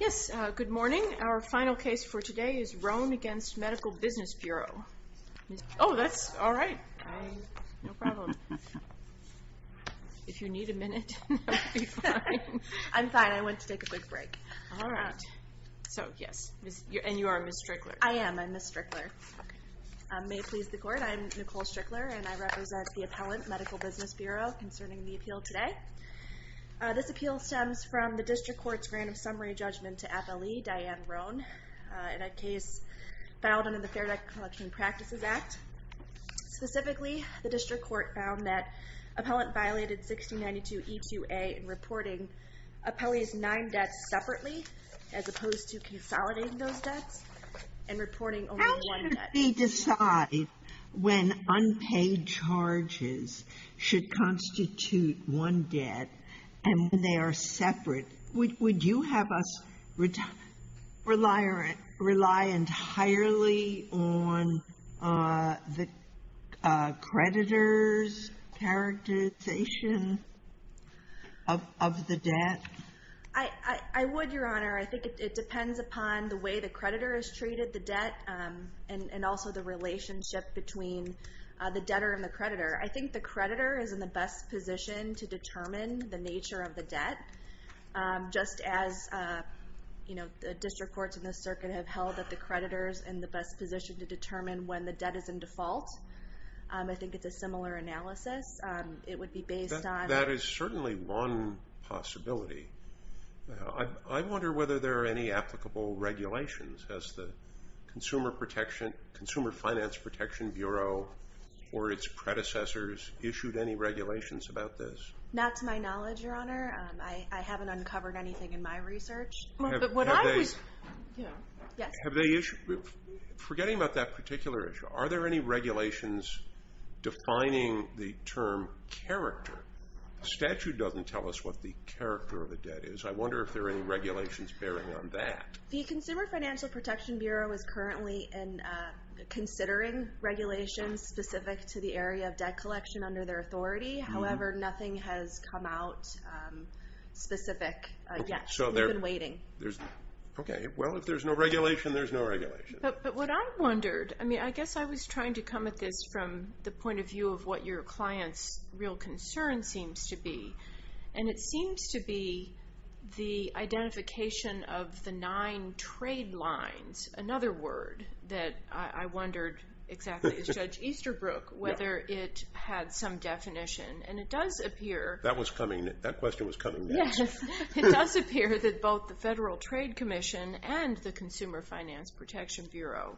Yes, good morning. Our final case for today is Rhone v. Medical Business Bureau. Oh, that's all right. No problem. If you need a minute, that will be fine. I'm fine. I went to take a quick break. All right. So, yes, and you are Ms. Strickler? I am. I'm Ms. Strickler. May it please the court, I'm Nicole Strickler and I represent the appellant, Medical Business Bureau, concerning the appeal today. This appeal stems from the district court's random summary judgment to Appellee Diane Rhone in a case filed under the Fair Debt Collection Practices Act. Specifically, the district court found that appellant violated 1692 E2A in reporting appellee's nine debts separately, as opposed to consolidating those debts and reporting only one debt. Let me decide when unpaid charges should constitute one debt and when they are separate. Would you have us rely entirely on the creditor's characterization of the debt? I would, Your Honor. I think it depends upon the way the creditor has treated the debt and also the relationship between the debtor and the creditor. I think the creditor is in the best position to determine the nature of the debt, just as the district courts in the circuit have held that the creditor's in the best position to determine when the debt is in default. I think it's a similar analysis. It would be based on... That is certainly one possibility. I wonder whether there are any applicable regulations, has the Consumer Finance Protection Bureau or its predecessors issued any regulations about this? Not to my knowledge, Your Honor. I haven't uncovered anything in my research. Forgetting about that particular issue, are there any regulations defining the term character? The statute doesn't tell us what the character of the debt is. I wonder if there are any regulations. The Financial Protection Bureau is currently considering regulations specific to the area of debt collection under their authority. However, nothing has come out specific yet. We've been waiting. Okay. Well, if there's no regulation, there's no regulation. But what I wondered, I guess I was trying to come at this from the point of view of what your client's real concern seems to be, and it seems to be the identification of the nine trade lines. Another word that I wondered exactly is Judge Easterbrook, whether it had some definition. And it does appear... That question was coming next. Yes. It does appear that both the Federal Trade Commission and the Consumer Finance Protection Bureau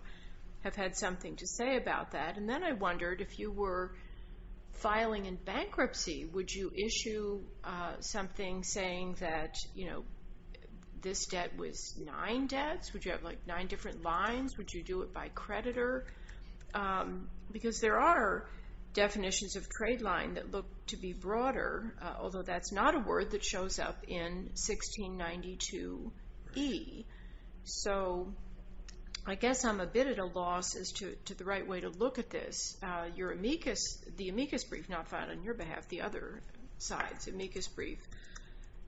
have had something to say about that. And then I wondered if you were filing in bankruptcy, would you issue something saying that this debt was nine debts? Would you have nine different lines? Would you do it by creditor? Because there are definitions of trade line that look to be broader, although that's not a word that shows up in 1692E. So I guess I'm a bit at a loss as to the right way to look at this. Your amicus, the amicus brief not filed on your behalf, the other side's amicus brief,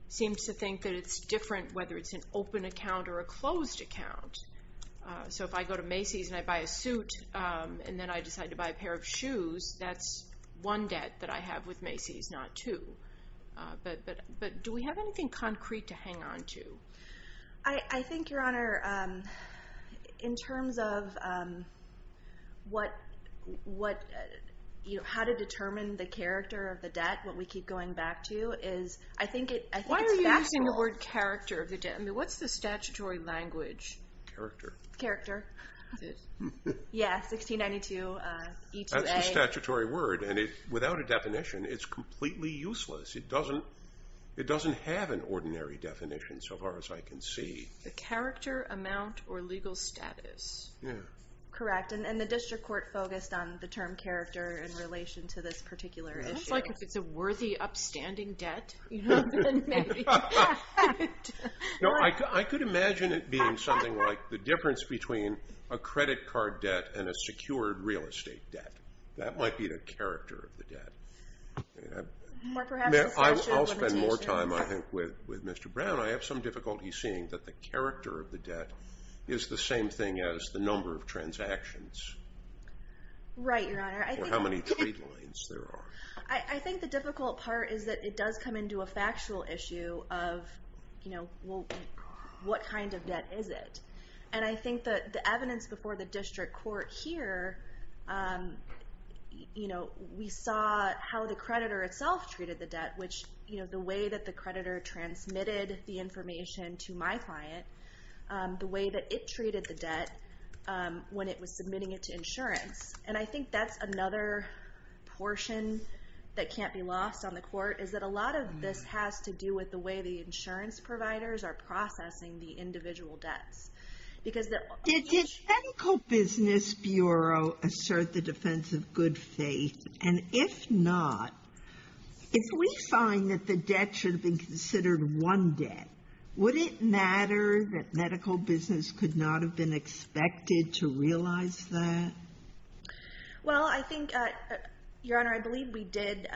seems to think that it's different whether it's an open account or a closed account. So if I go to Macy's and I buy a suit and then I decide to buy a pair of shoes, that's one debt that I have with Macy's, not two. But do we have anything concrete to hang on to? I think, Your Honor, in terms of how to determine the character of the debt, what we keep going back to, is I think it's factual. Why are you using the word character of the debt? I mean, what's the statutory language? Character. Character. That's it. Yeah, 1692E2A. That's the statutory word. And without a definition, it's completely useless. It doesn't have an ordinary definition so far as I can see. The character, amount, or legal status. Yeah. Correct. And the district court focused on the term character in relation to this particular issue. It's like if it's a worthy upstanding debt, you know? No, I could imagine it being something like the difference between a credit card debt and a secured real estate debt. That might be the character of the difficulty seeing that the character of the debt is the same thing as the number of transactions. Right, Your Honor. Or how many trade lines there are. I think the difficult part is that it does come into a factual issue of what kind of debt is it? And I think that the evidence before the district court here, we saw how the creditor itself treated the debt, which the way that creditor transmitted the information to my client, the way that it treated the debt when it was submitting it to insurance. And I think that's another portion that can't be lost on the court is that a lot of this has to do with the way the insurance providers are processing the individual debts. Because the... Did the technical business bureau assert the defense of good faith? And if not, if we find that the debt should have been considered one debt, would it matter that medical business could not have been expected to realize that? Well, I think, Your Honor, I believe we did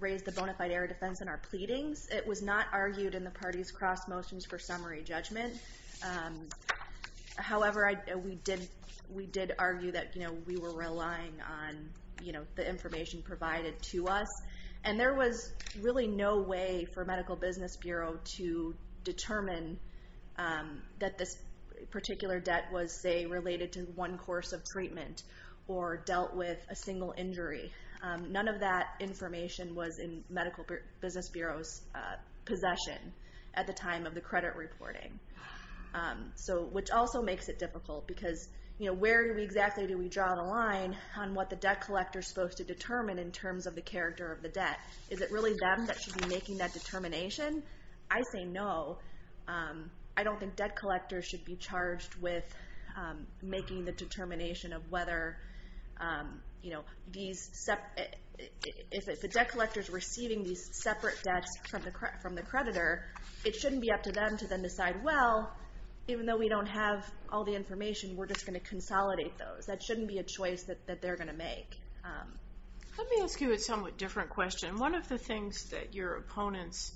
raise the bona fide error defense in our pleadings. It was not argued in the party's cross motions for summary judgment. However, we did argue that, you know, we were relying on, the information provided to us. And there was really no way for medical business bureau to determine that this particular debt was, say, related to one course of treatment or dealt with a single injury. None of that information was in medical business bureau's possession at the time of the credit reporting. So, which also makes it difficult because where exactly do we draw the line on what the debt collector's supposed to determine in terms of the character of the debt? Is it really them that should be making that determination? I say no. I don't think debt collectors should be charged with making the determination of whether, you know, these... If the debt collector's receiving these separate debts from the creditor, it shouldn't be up to them to then decide, well, even though we don't have all the information, we're just going to consolidate those. That shouldn't be a choice that they're going to make. Let me ask you a somewhat different question. One of the things that your opponents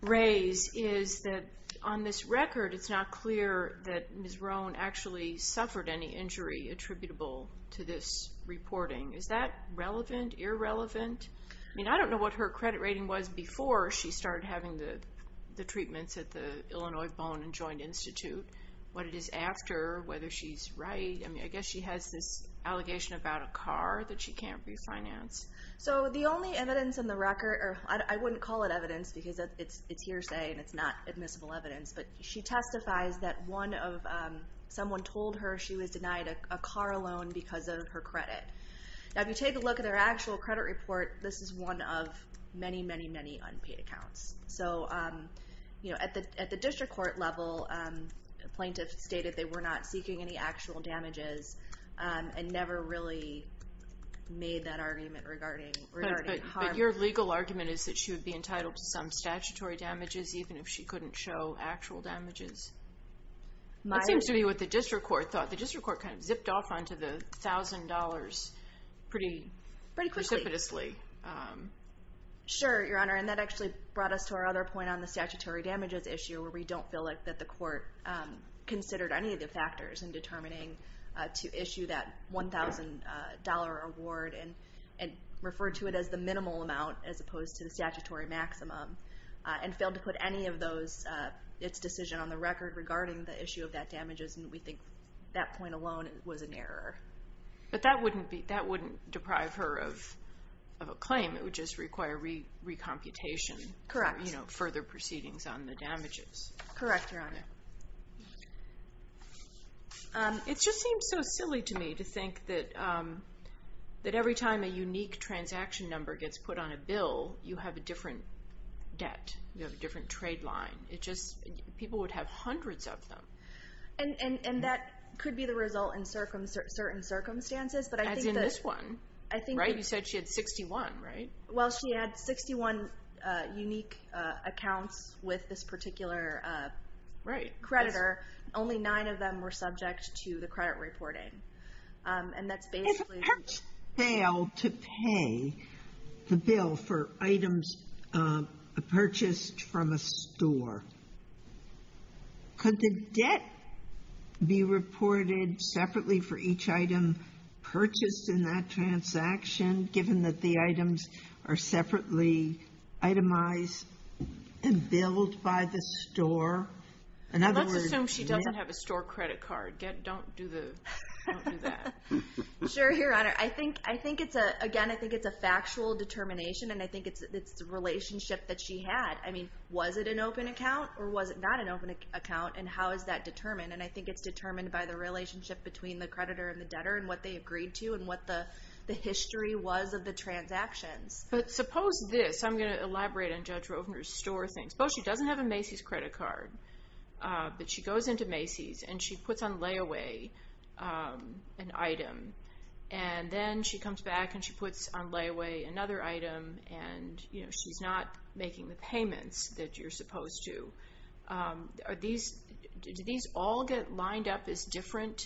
raise is that on this record, it's not clear that Ms. Roan actually suffered any injury attributable to this reporting. Is that relevant? Irrelevant? I mean, I don't know what her credit rating was before she started having the treatments at the Illinois Bone and Joint Institute. What it is after, whether she's right. I mean, I guess she has this allegation about a car that she can't refinance. So the only evidence in the record, or I wouldn't call it evidence because it's hearsay and it's not admissible evidence, but she testifies that someone told her she was denied a car loan because of her credit. Now, if you take a look at their actual credit report, this is one of many, many, many unpaid accounts. So at the district court level, plaintiffs stated they were not seeking any actual damages and never really made that argument regarding harm. But your legal argument is that she would be entitled to some statutory damages, even if she couldn't show actual damages? That seems to be what the district court thought. The district court kind of zipped off onto the thousand dollars pretty precipitously. Sure, Your Honor. And that actually brought us to our other point on the statutory damages issue where we don't feel like that the court considered any of the factors in determining to issue that $1,000 award and referred to it as the minimal amount as opposed to the statutory maximum and failed to put any of those, its decision on the record regarding the issue of that damages. And we think that point alone was an error. But that wouldn't deprive her of a claim. It would just require recomputation. Correct. You know, further proceedings on the damages. Correct, Your Honor. It just seems so silly to me to think that every time a unique transaction number gets put on a bill, you have a different debt. You have a different trade line. People would have And that could be the result in certain circumstances. As in this one. You said she had 61, right? Well, she had 61 unique accounts with this particular creditor. Only nine of them were subject to the credit reporting. And that's basically... If a person failed to pay the bill for items purchased from a store, could the debt be reported separately for each item purchased in that transaction, given that the items are separately itemized and billed by the store? Let's assume she doesn't have a store credit card. Don't do that. Sure, Your Honor. Again, I think it's a factual determination. And I think it's the relationship that she had. I mean, was it an open account or was it not an open account? And how is that determined? And I think it's determined by the relationship between the creditor and the debtor and what they agreed to and what the history was of the transactions. But suppose this... I'm going to elaborate on Judge Rovner's store thing. Suppose she doesn't have a Macy's credit card, but she goes into layaway an item. And then she comes back and she puts on layaway another item and she's not making the payments that you're supposed to. Do these all get lined up as different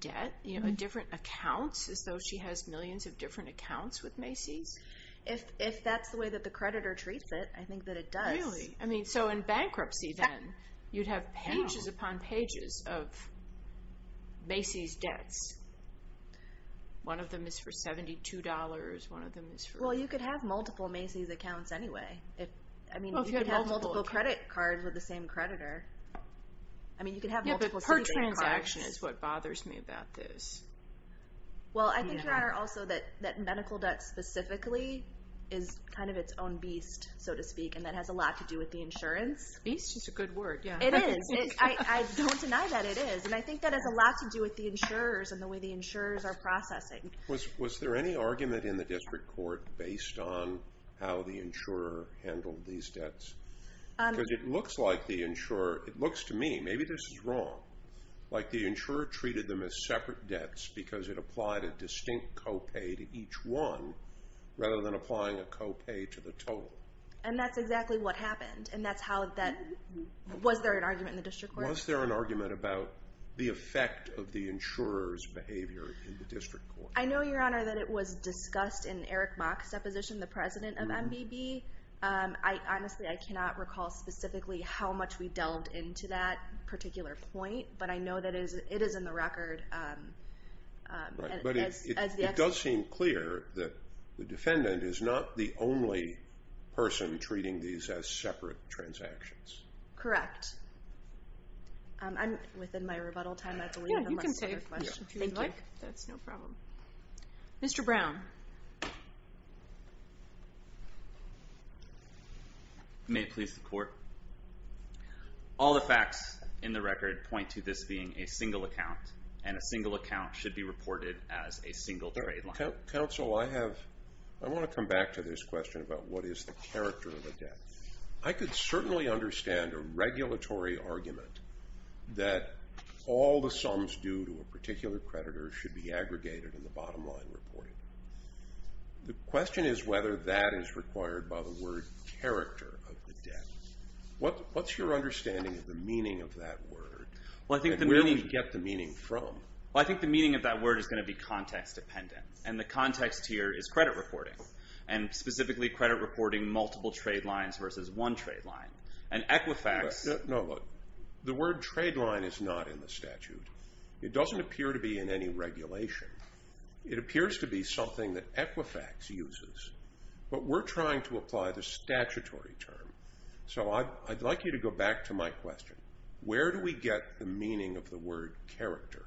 debt, different accounts, as though she has millions of different accounts with Macy's? If that's the way that the creditor treats it, I think that it does. Really? I mean, so in bankruptcy then, you'd have pages upon pages of Macy's debts. One of them is for $72. One of them is for... Well, you could have multiple Macy's accounts anyway. I mean, you could have multiple credit cards with the same creditor. I mean, you could have multiple... Yeah, but per transaction is what bothers me about this. Well, I think, Your Honor, also that medical debt specifically is kind of its own beast, so to speak, and that has a lot to do with the insurance. Beast is a good word. Yeah. It is. I don't deny that it is, and I think that has a lot to do with the insurers and the way the insurers are processing. Was there any argument in the district court based on how the insurer handled these debts? Because it looks like the insurer... It looks to me, maybe this is wrong, like the insurer treated them as separate debts because it applied a distinct copay to each one rather than applying a copay to the total. And that's exactly what happened, and that's how that... Was there an argument about the effect of the insurer's behavior in the district court? I know, Your Honor, that it was discussed in Eric Mock's deposition, the president of MBB. Honestly, I cannot recall specifically how much we delved into that particular point, but I know that it is in the record as the... But it does seem clear that the defendant is not the insurer. Within my rebuttal time, I believe... Yeah, you can save if you'd like. That's no problem. Mr. Brown. May it please the court? All the facts in the record point to this being a single account, and a single account should be reported as a single trade line. Counsel, I want to come back to this question about what is the character of the debt. I could certainly understand a regulatory argument that all the sums due to a particular creditor should be aggregated in the bottom line reporting. The question is whether that is required by the word character of the debt. What's your understanding of the meaning of that word? Well, I think the meaning... And where do we get the meaning from? Well, I think the meaning of that word is going to be context dependent, and the context here is credit reporting multiple trade lines versus one trade line. And Equifax... No, look. The word trade line is not in the statute. It doesn't appear to be in any regulation. It appears to be something that Equifax uses, but we're trying to apply the statutory term. So I'd like you to go back to my question. Where do we get the meaning of the word character?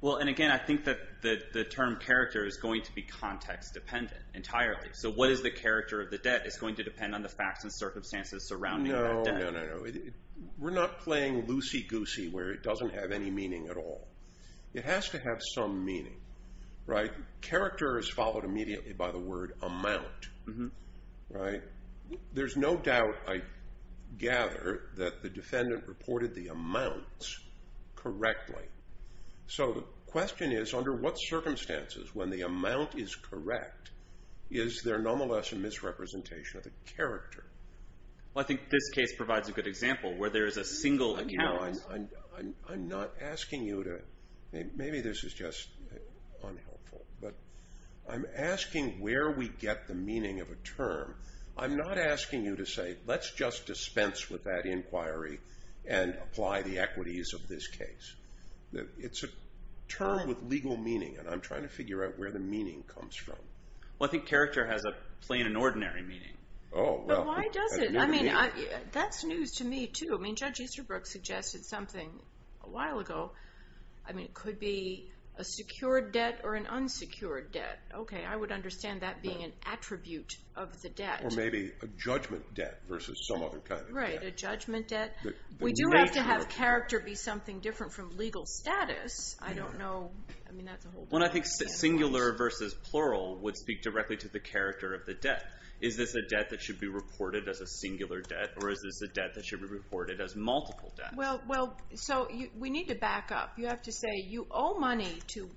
Well, and again, I think that the term character is going to be context dependent entirely. So what is the character of the debt? It's going to depend on the facts and circumstances surrounding that debt. No, no, no. We're not playing loosey-goosey where it doesn't have any meaning at all. It has to have some meaning, right? Character is followed immediately by the word amount, right? There's no doubt, I gather, that the defendant reported the amounts correctly. So the question is, under what circumstances, when the amount is correct, is there nonetheless a misrepresentation of the character? Well, I think this case provides a good example where there is a single account. I'm not asking you to... Maybe this is just unhelpful, but I'm asking where we get the meaning of a term. I'm not asking you to say, let's just dispense with that inquiry and apply the equities of this case. It's a term with legal meaning, and I'm trying to figure out where the meaning comes from. Well, I think character has a plain and ordinary meaning. Oh, well. But why does it? I mean, that's news to me too. I mean, Judge Easterbrook suggested something a while ago. I mean, it could be a secured debt or an unsecured debt. Okay, I would understand that being an attribute of the debt. Or maybe a judgment debt versus some other kind of debt. Right, a judgment debt. We do have to have character be something different from legal status. I don't know. I mean, that's a whole different thing. Well, I think singular versus plural would speak directly to the character of the debt. Is this a debt that should be reported as a singular debt, or is this a debt that should be reported as multiple debt? Well, so we need to back up. You have to say you owe money to...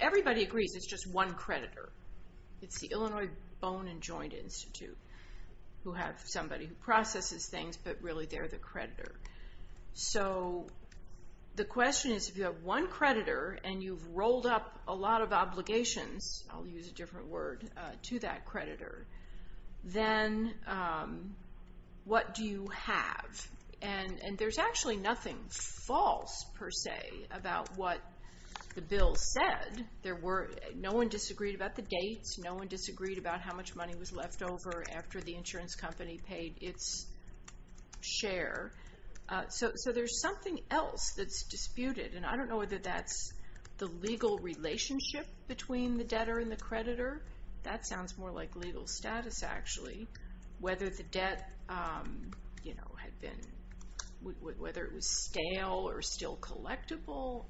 Everybody agrees it's just one creditor. It's the Illinois Bone and really they're the creditor. So the question is, if you have one creditor and you've rolled up a lot of obligations, I'll use a different word, to that creditor, then what do you have? And there's actually nothing false, per se, about what the bill said. No one disagreed about the dates. No one disagreed about how much money was left over after the insurance company paid its share. So there's something else that's disputed, and I don't know whether that's the legal relationship between the debtor and the creditor. That sounds more like legal status, actually. Whether the debt had been... Whether it was stale or still collectible.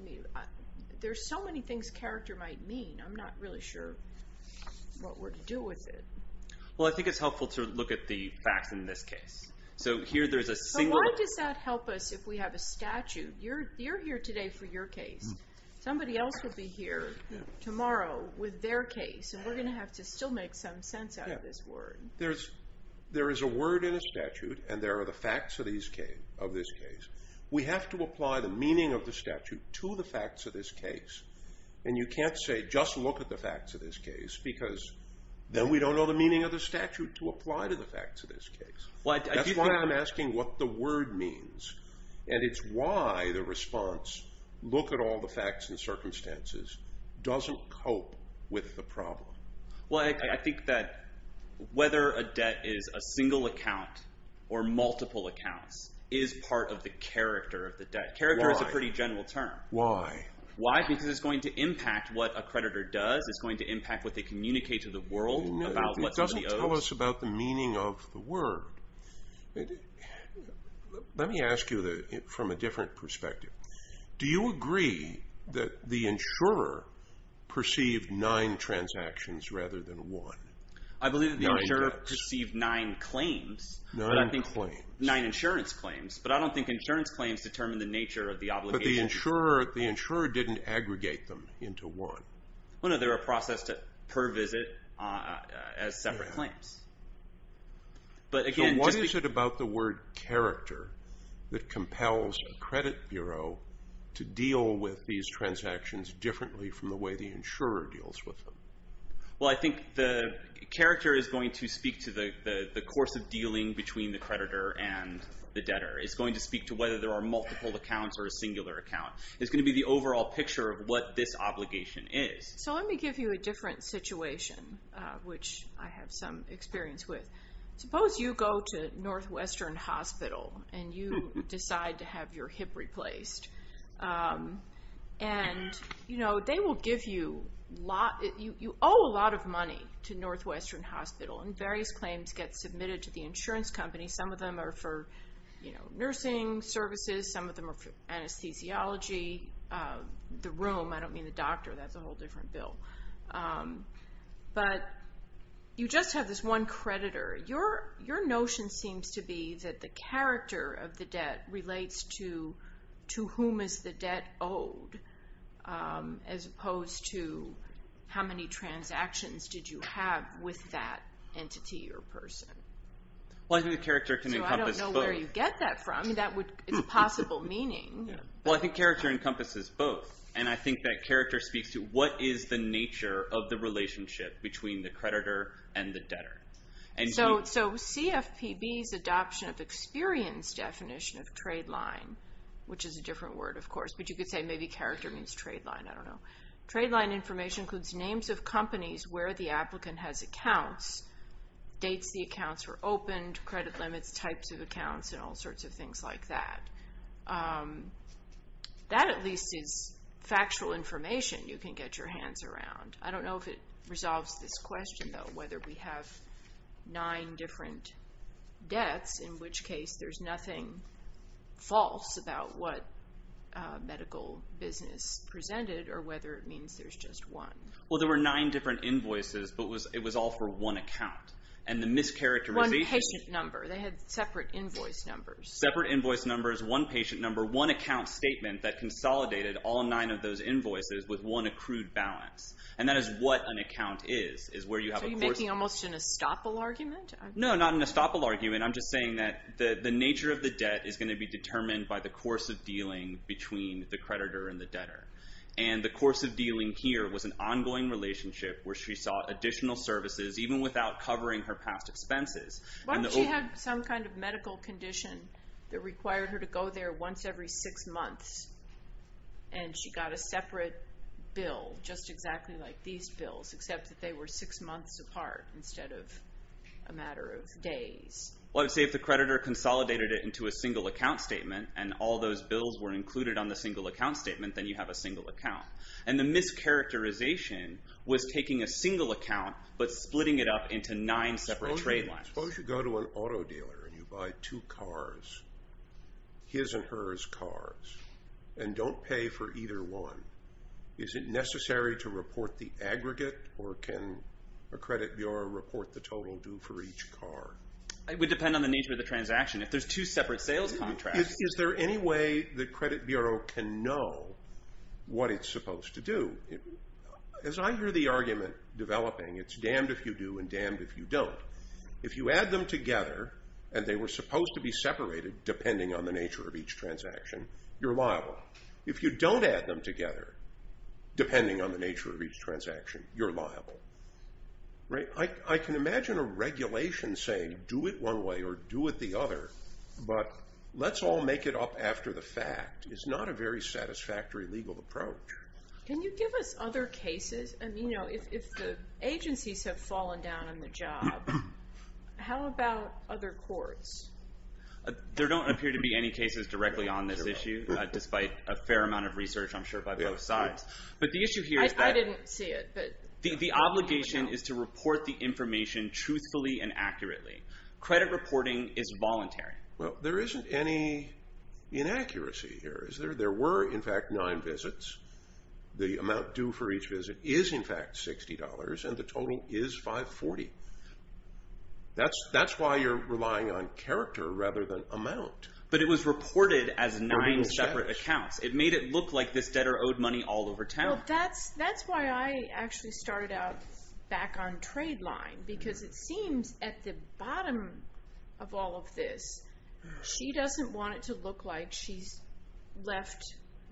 There's so many things character might mean. I'm not really sure what we're to do with it. Well, I think it's helpful to look at the facts in this case. So here there's a single... But why does that help us if we have a statute? You're here today for your case. Somebody else would be here tomorrow with their case, and we're going to have to still make some sense out of this word. There is a word in a statute, and there are the facts of this case. We have to apply the meaning of the statute to the facts of this case. And you can't say, just look at the facts of this case, because then we don't know the meaning of the statute to apply to the facts of this case. That's why I'm asking what the word means. And it's why the response, look at all the facts and circumstances, doesn't cope with the problem. Well, I think that whether a debt is a single account or multiple accounts is part of the character of the debt. Character is a pretty general term. Why? Why? Because it's going to impact what a creditor does. It's going to impact what they communicate to the world about what somebody owes. It doesn't tell us about the meaning of the word. Let me ask you from a different perspective. Do you agree that the insurer perceived nine transactions rather than one? Nine debts. I believe that the insurer perceived nine claims. Nine claims. Nine insurance claims. But I don't think insurance claims determine the nature of the obligation. The insurer didn't aggregate them into one. No, they were processed per visit as separate claims. So what is it about the word character that compels a credit bureau to deal with these transactions differently from the way the insurer deals with them? Well, I think the character is going to speak to the course of dealing between the creditor and the debtor. It's going to speak to whether there are multiple accounts or a singular account. It's going to be the overall picture of what this obligation is. So let me give you a different situation, which I have some experience with. Suppose you go to Northwestern Hospital and you decide to have your hip replaced. And, you know, they will give you a lot. You owe a lot of money to Northwestern Hospital and various claims get submitted to the insurance company. Some of them are for, you know, nursing services. Some of them are for anesthesiology. The room. I don't mean the doctor. That's a whole different bill. But you just have this one creditor. Your notion seems to be that the character of the debt relates to whom is the debt owed as opposed to how many transactions did you have with that entity or person? Well, I think the character can encompass both. I don't know where you get that from. That would be a possible meaning. Well, I think character encompasses both. And I think that character speaks to what is the nature of the relationship between the creditor and the debtor. And so CFPB's adoption of experience definition of trade line, which is a different word, of course, but you could say maybe character means trade line. I don't know. Trade line information includes names of companies where the applicant has accounts, dates the accounts were opened, credit limits, types of accounts, and all sorts of things like that. That at least is factual information you can get your hands around. I don't know if it resolves this question, though, whether we have nine different debts, in which case there's nothing false about what medical business presented or whether it means there's just one. Well, there were nine different invoices, but it was all for one account. And the mischaracterization— One patient number. They had separate invoice numbers. Separate invoice numbers, one patient number, one account statement that consolidated all nine of those invoices with one accrued balance. And that is what an account is, is where you have a— So you're making almost an estoppel argument? No, not an estoppel argument. I'm just saying that the nature of the debt is going to be determined by the course of dealing between the creditor and the debtor. And the course of dealing here was an ongoing relationship where she sought additional services even without covering her past expenses. Why would she have some kind of medical condition that required her to go there once every six months, and she got a separate bill just exactly like these bills, except that they were six months apart instead of a matter of days? Well, I would say if the creditor consolidated it into a single account statement, and all those bills were included on the single account statement, then you have a single account. And the mischaracterization was taking a single account but splitting it up into nine separate trade lines. Suppose you go to an auto dealer and you buy two cars, his and hers cars, and don't pay for either one. Is it necessary to report the aggregate, or can a credit bureau report the total due for each car? It would depend on the nature of the transaction. If there's two separate sales contracts— Is there any way the credit bureau can know what it's supposed to do? As I hear the argument developing, it's damned if you do and damned if you don't. If you add them together, and they were supposed to be separated depending on the nature of each transaction, you're liable. If you don't add them together depending on the nature of each transaction, you're liable. I can imagine a regulation saying, do it one way or do it the other, but let's all make it up after the fact is not a very satisfactory legal approach. Can you give us other cases? If the agencies have fallen down on the job, how about other courts? There don't appear to be any cases directly on this issue, despite a fair amount of research I'm sure by both sides. But the issue here is that— I didn't see it. The obligation is to report the information truthfully and accurately. Credit reporting is voluntary. There isn't any inaccuracy here. There were, in fact, nine visits. The amount due for each visit is, in fact, $60, and the total is $540. That's why you're relying on character rather than amount. But it was reported as nine separate accounts. It made it look like this debtor owed money all over town. Well, that's why I actually started out back on Tradeline, because it seems at the bottom of all of this, she doesn't want it to look like she's left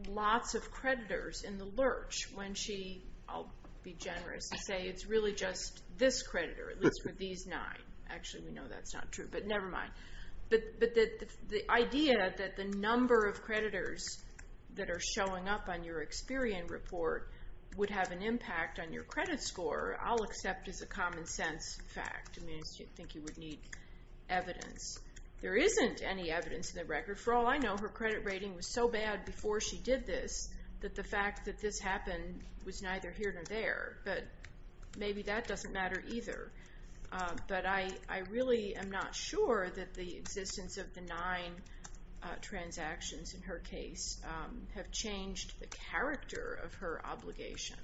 lots of creditors in the lurch when she—I'll be generous and say it's really just this creditor, at least for these nine. Actually, we know that's not true, but never mind. But the idea that the number of creditors that are showing up on your Experian report would have an impact on your credit score, I'll accept as a common sense fact. I mean, I think you would need evidence. There isn't any evidence in the record. For all I know, her credit rating was so bad before she did this that the fact that this happened was neither here nor there. But maybe that doesn't matter either. But I really am not sure that the existence of the nine transactions in her case have changed the character of her obligation.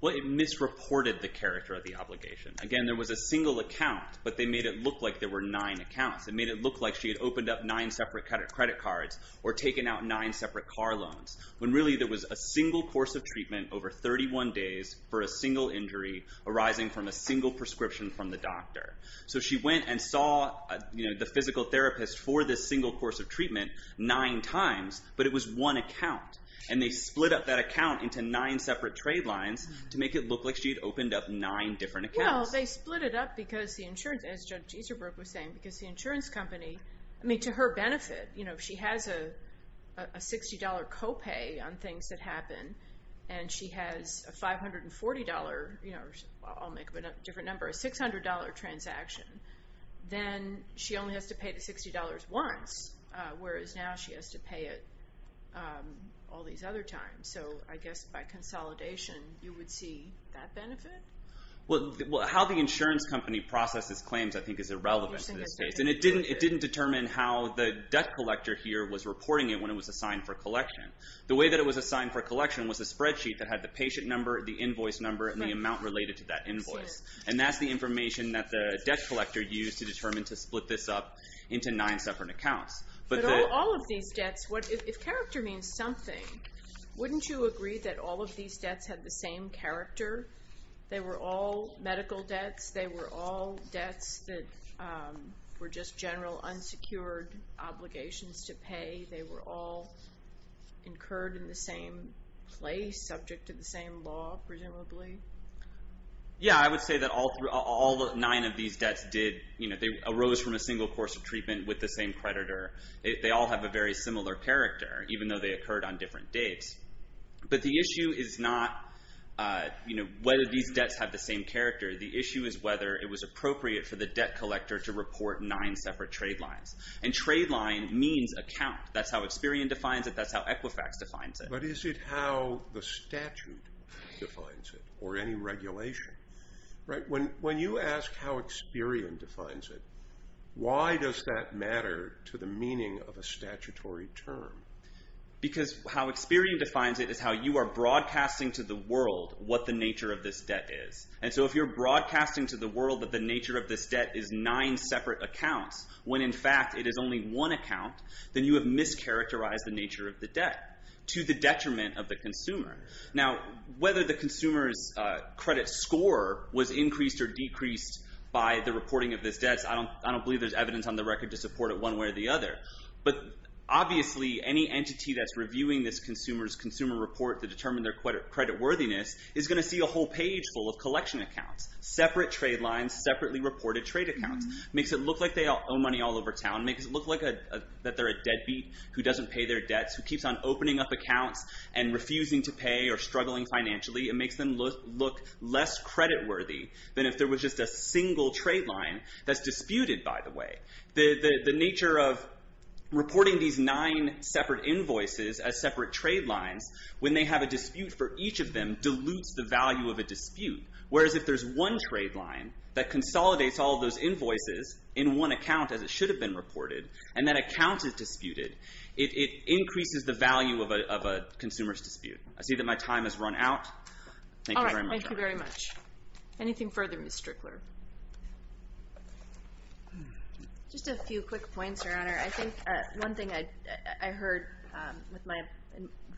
Well, it misreported the character of the obligation. Again, there was a single account, but they made it look like there were nine accounts. It made it look like she had opened up nine separate credit cards or taken out nine separate car loans, when really there was a single course of treatment over 31 days for a single injury arising from a single prescription from the doctor. So she went and saw the physical therapist for this single course of treatment nine times, but it was one account. And they split up that account into nine separate trade lines to make it look like she had opened up nine different accounts. Well, they split it up because the insurance, as Judge Easterbrook was saying, because the insurance company, I mean, to her benefit, she has a $60 copay on things that happen, and she has a $540, I'll make up a different number, a $600 transaction. Then she only has to pay the $60 once, whereas now she has to pay it all these other times. So I guess by consolidation, you would see that benefit? Well, how the insurance company processes claims, I think, is irrelevant in this case. And it didn't determine how the debt collector here was reporting it when it was assigned for collection. The way that it was assigned for collection was a spreadsheet that had the patient number, the invoice number, and the amount related to that invoice. And that's the information that the debt collector used to determine to split this up into nine separate accounts. But all of these debts, if character means something, wouldn't you agree that all of these debts had the same character? They were all medical debts. They were all debts that were just general unsecured obligations to pay. They were all incurred in the same place, subject to the same law, presumably. Yeah, I would say that all nine of these debts arose from a single course of treatment with the same creditor. They all have a very similar character, even though they occurred on different dates. But the issue is not whether these debts have the same character. The issue is whether it was appropriate for the debt collector to report nine separate trade lines. And trade line means account. That's how Experian defines it. That's how Equifax defines it. But is it how the statute defines it, or any regulation? When you ask how Experian defines it, why does that matter to the meaning of a statutory term? Because how Experian defines it is how you are broadcasting to the world what the nature of this debt is. And so if you're broadcasting to the world that the nature of this debt is nine separate accounts, when in fact it is only one account, then you have mischaracterized the nature of the debt to the detriment of the consumer. Now, whether the consumer's credit score was increased or decreased by the reporting of this debt, I don't believe there's evidence on the record to support it one way or the other. But obviously, any entity that's reviewing this consumer's consumer report to determine their credit worthiness is going to see a whole page full of collection accounts, separate trade lines, separately reported trade accounts. Makes it look like they owe money all over town. Makes it look like that they're a deadbeat who doesn't pay their debts, who keeps on opening up accounts and refusing to pay or struggling financially. It makes them look less credit worthy than if there was just a single trade line that's disputed, by the way. The nature of reporting these nine separate invoices as separate trade lines, when they have a dispute for each of them, dilutes the value of a dispute. Whereas if there's one trade line that consolidates all those invoices in one account, as it should have been reported, and that account is disputed, it increases the value of a consumer's dispute. I see that my time has run out. Thank you very much. All right. Thank you very much. Anything further, Ms. Strickler? Just a few quick points, Your Honor. I think one thing I heard with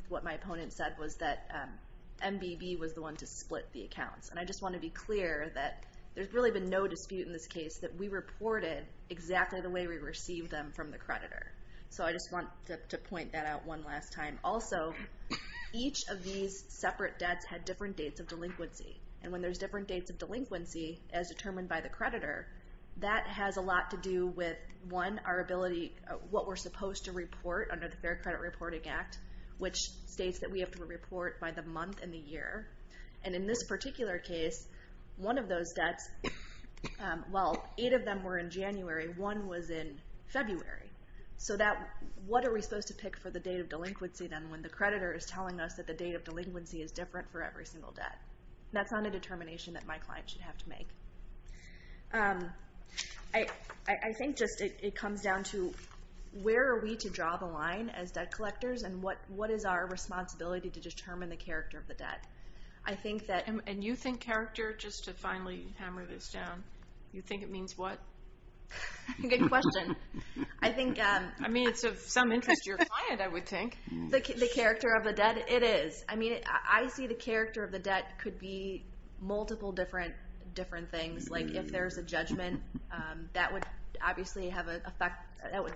what my opponent said was that MBB was the one to split the accounts. And I just want to be clear that there's really been no dispute in this case that we reported exactly the way we received them from the creditor. So I just want to point that out one last time. Also, each of these separate debts had different dates of delinquency. And when there's different dates of delinquency, as determined by the creditor, that has a lot to do with, one, our ability, what we're supposed to report under the Fair Credit Reporting Act, which states that we have to report by the month and the year. And in this particular case, one of those debts, well, eight of them were in January. One was in February. So what are we supposed to pick for the date of delinquency, then, when the creditor is telling us that the date of delinquency is different for every single debt? That's not a determination that my client should have to make. I think just it comes down to, where are we to draw the line as debt collectors? And what is our responsibility to determine the character of the debt? And you think character, just to finally hammer this down? You think it means what? Good question. I mean, it's of some interest to your client, I would think. The character of the debt? It is. I mean, I see the character of the debt could be multiple different things. Like, if there's a judgment, that would obviously have an effect.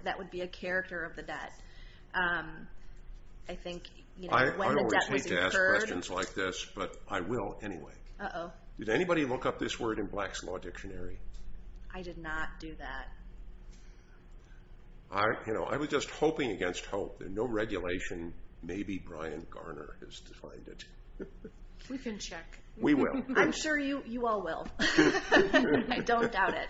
That would be a character of the debt. I think, you know, when the debt was incurred... I will, anyway. Did anybody look up this word in Black's Law Dictionary? I did not do that. I was just hoping against hope. There's no regulation. Maybe Brian Garner has defined it. We can check. We will. I'm sure you all will. I don't doubt it.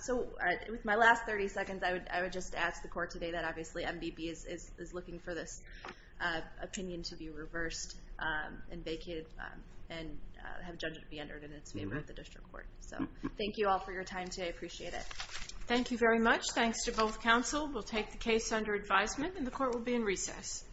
So with my last 30 seconds, I would just ask the court today that, obviously, is looking for this opinion to be reversed and vacated, and have judgment be entered in its favor of the district court. So thank you all for your time today. I appreciate it. Thank you very much. Thanks to both counsel. We'll take the case under advisement, and the court will be in recess.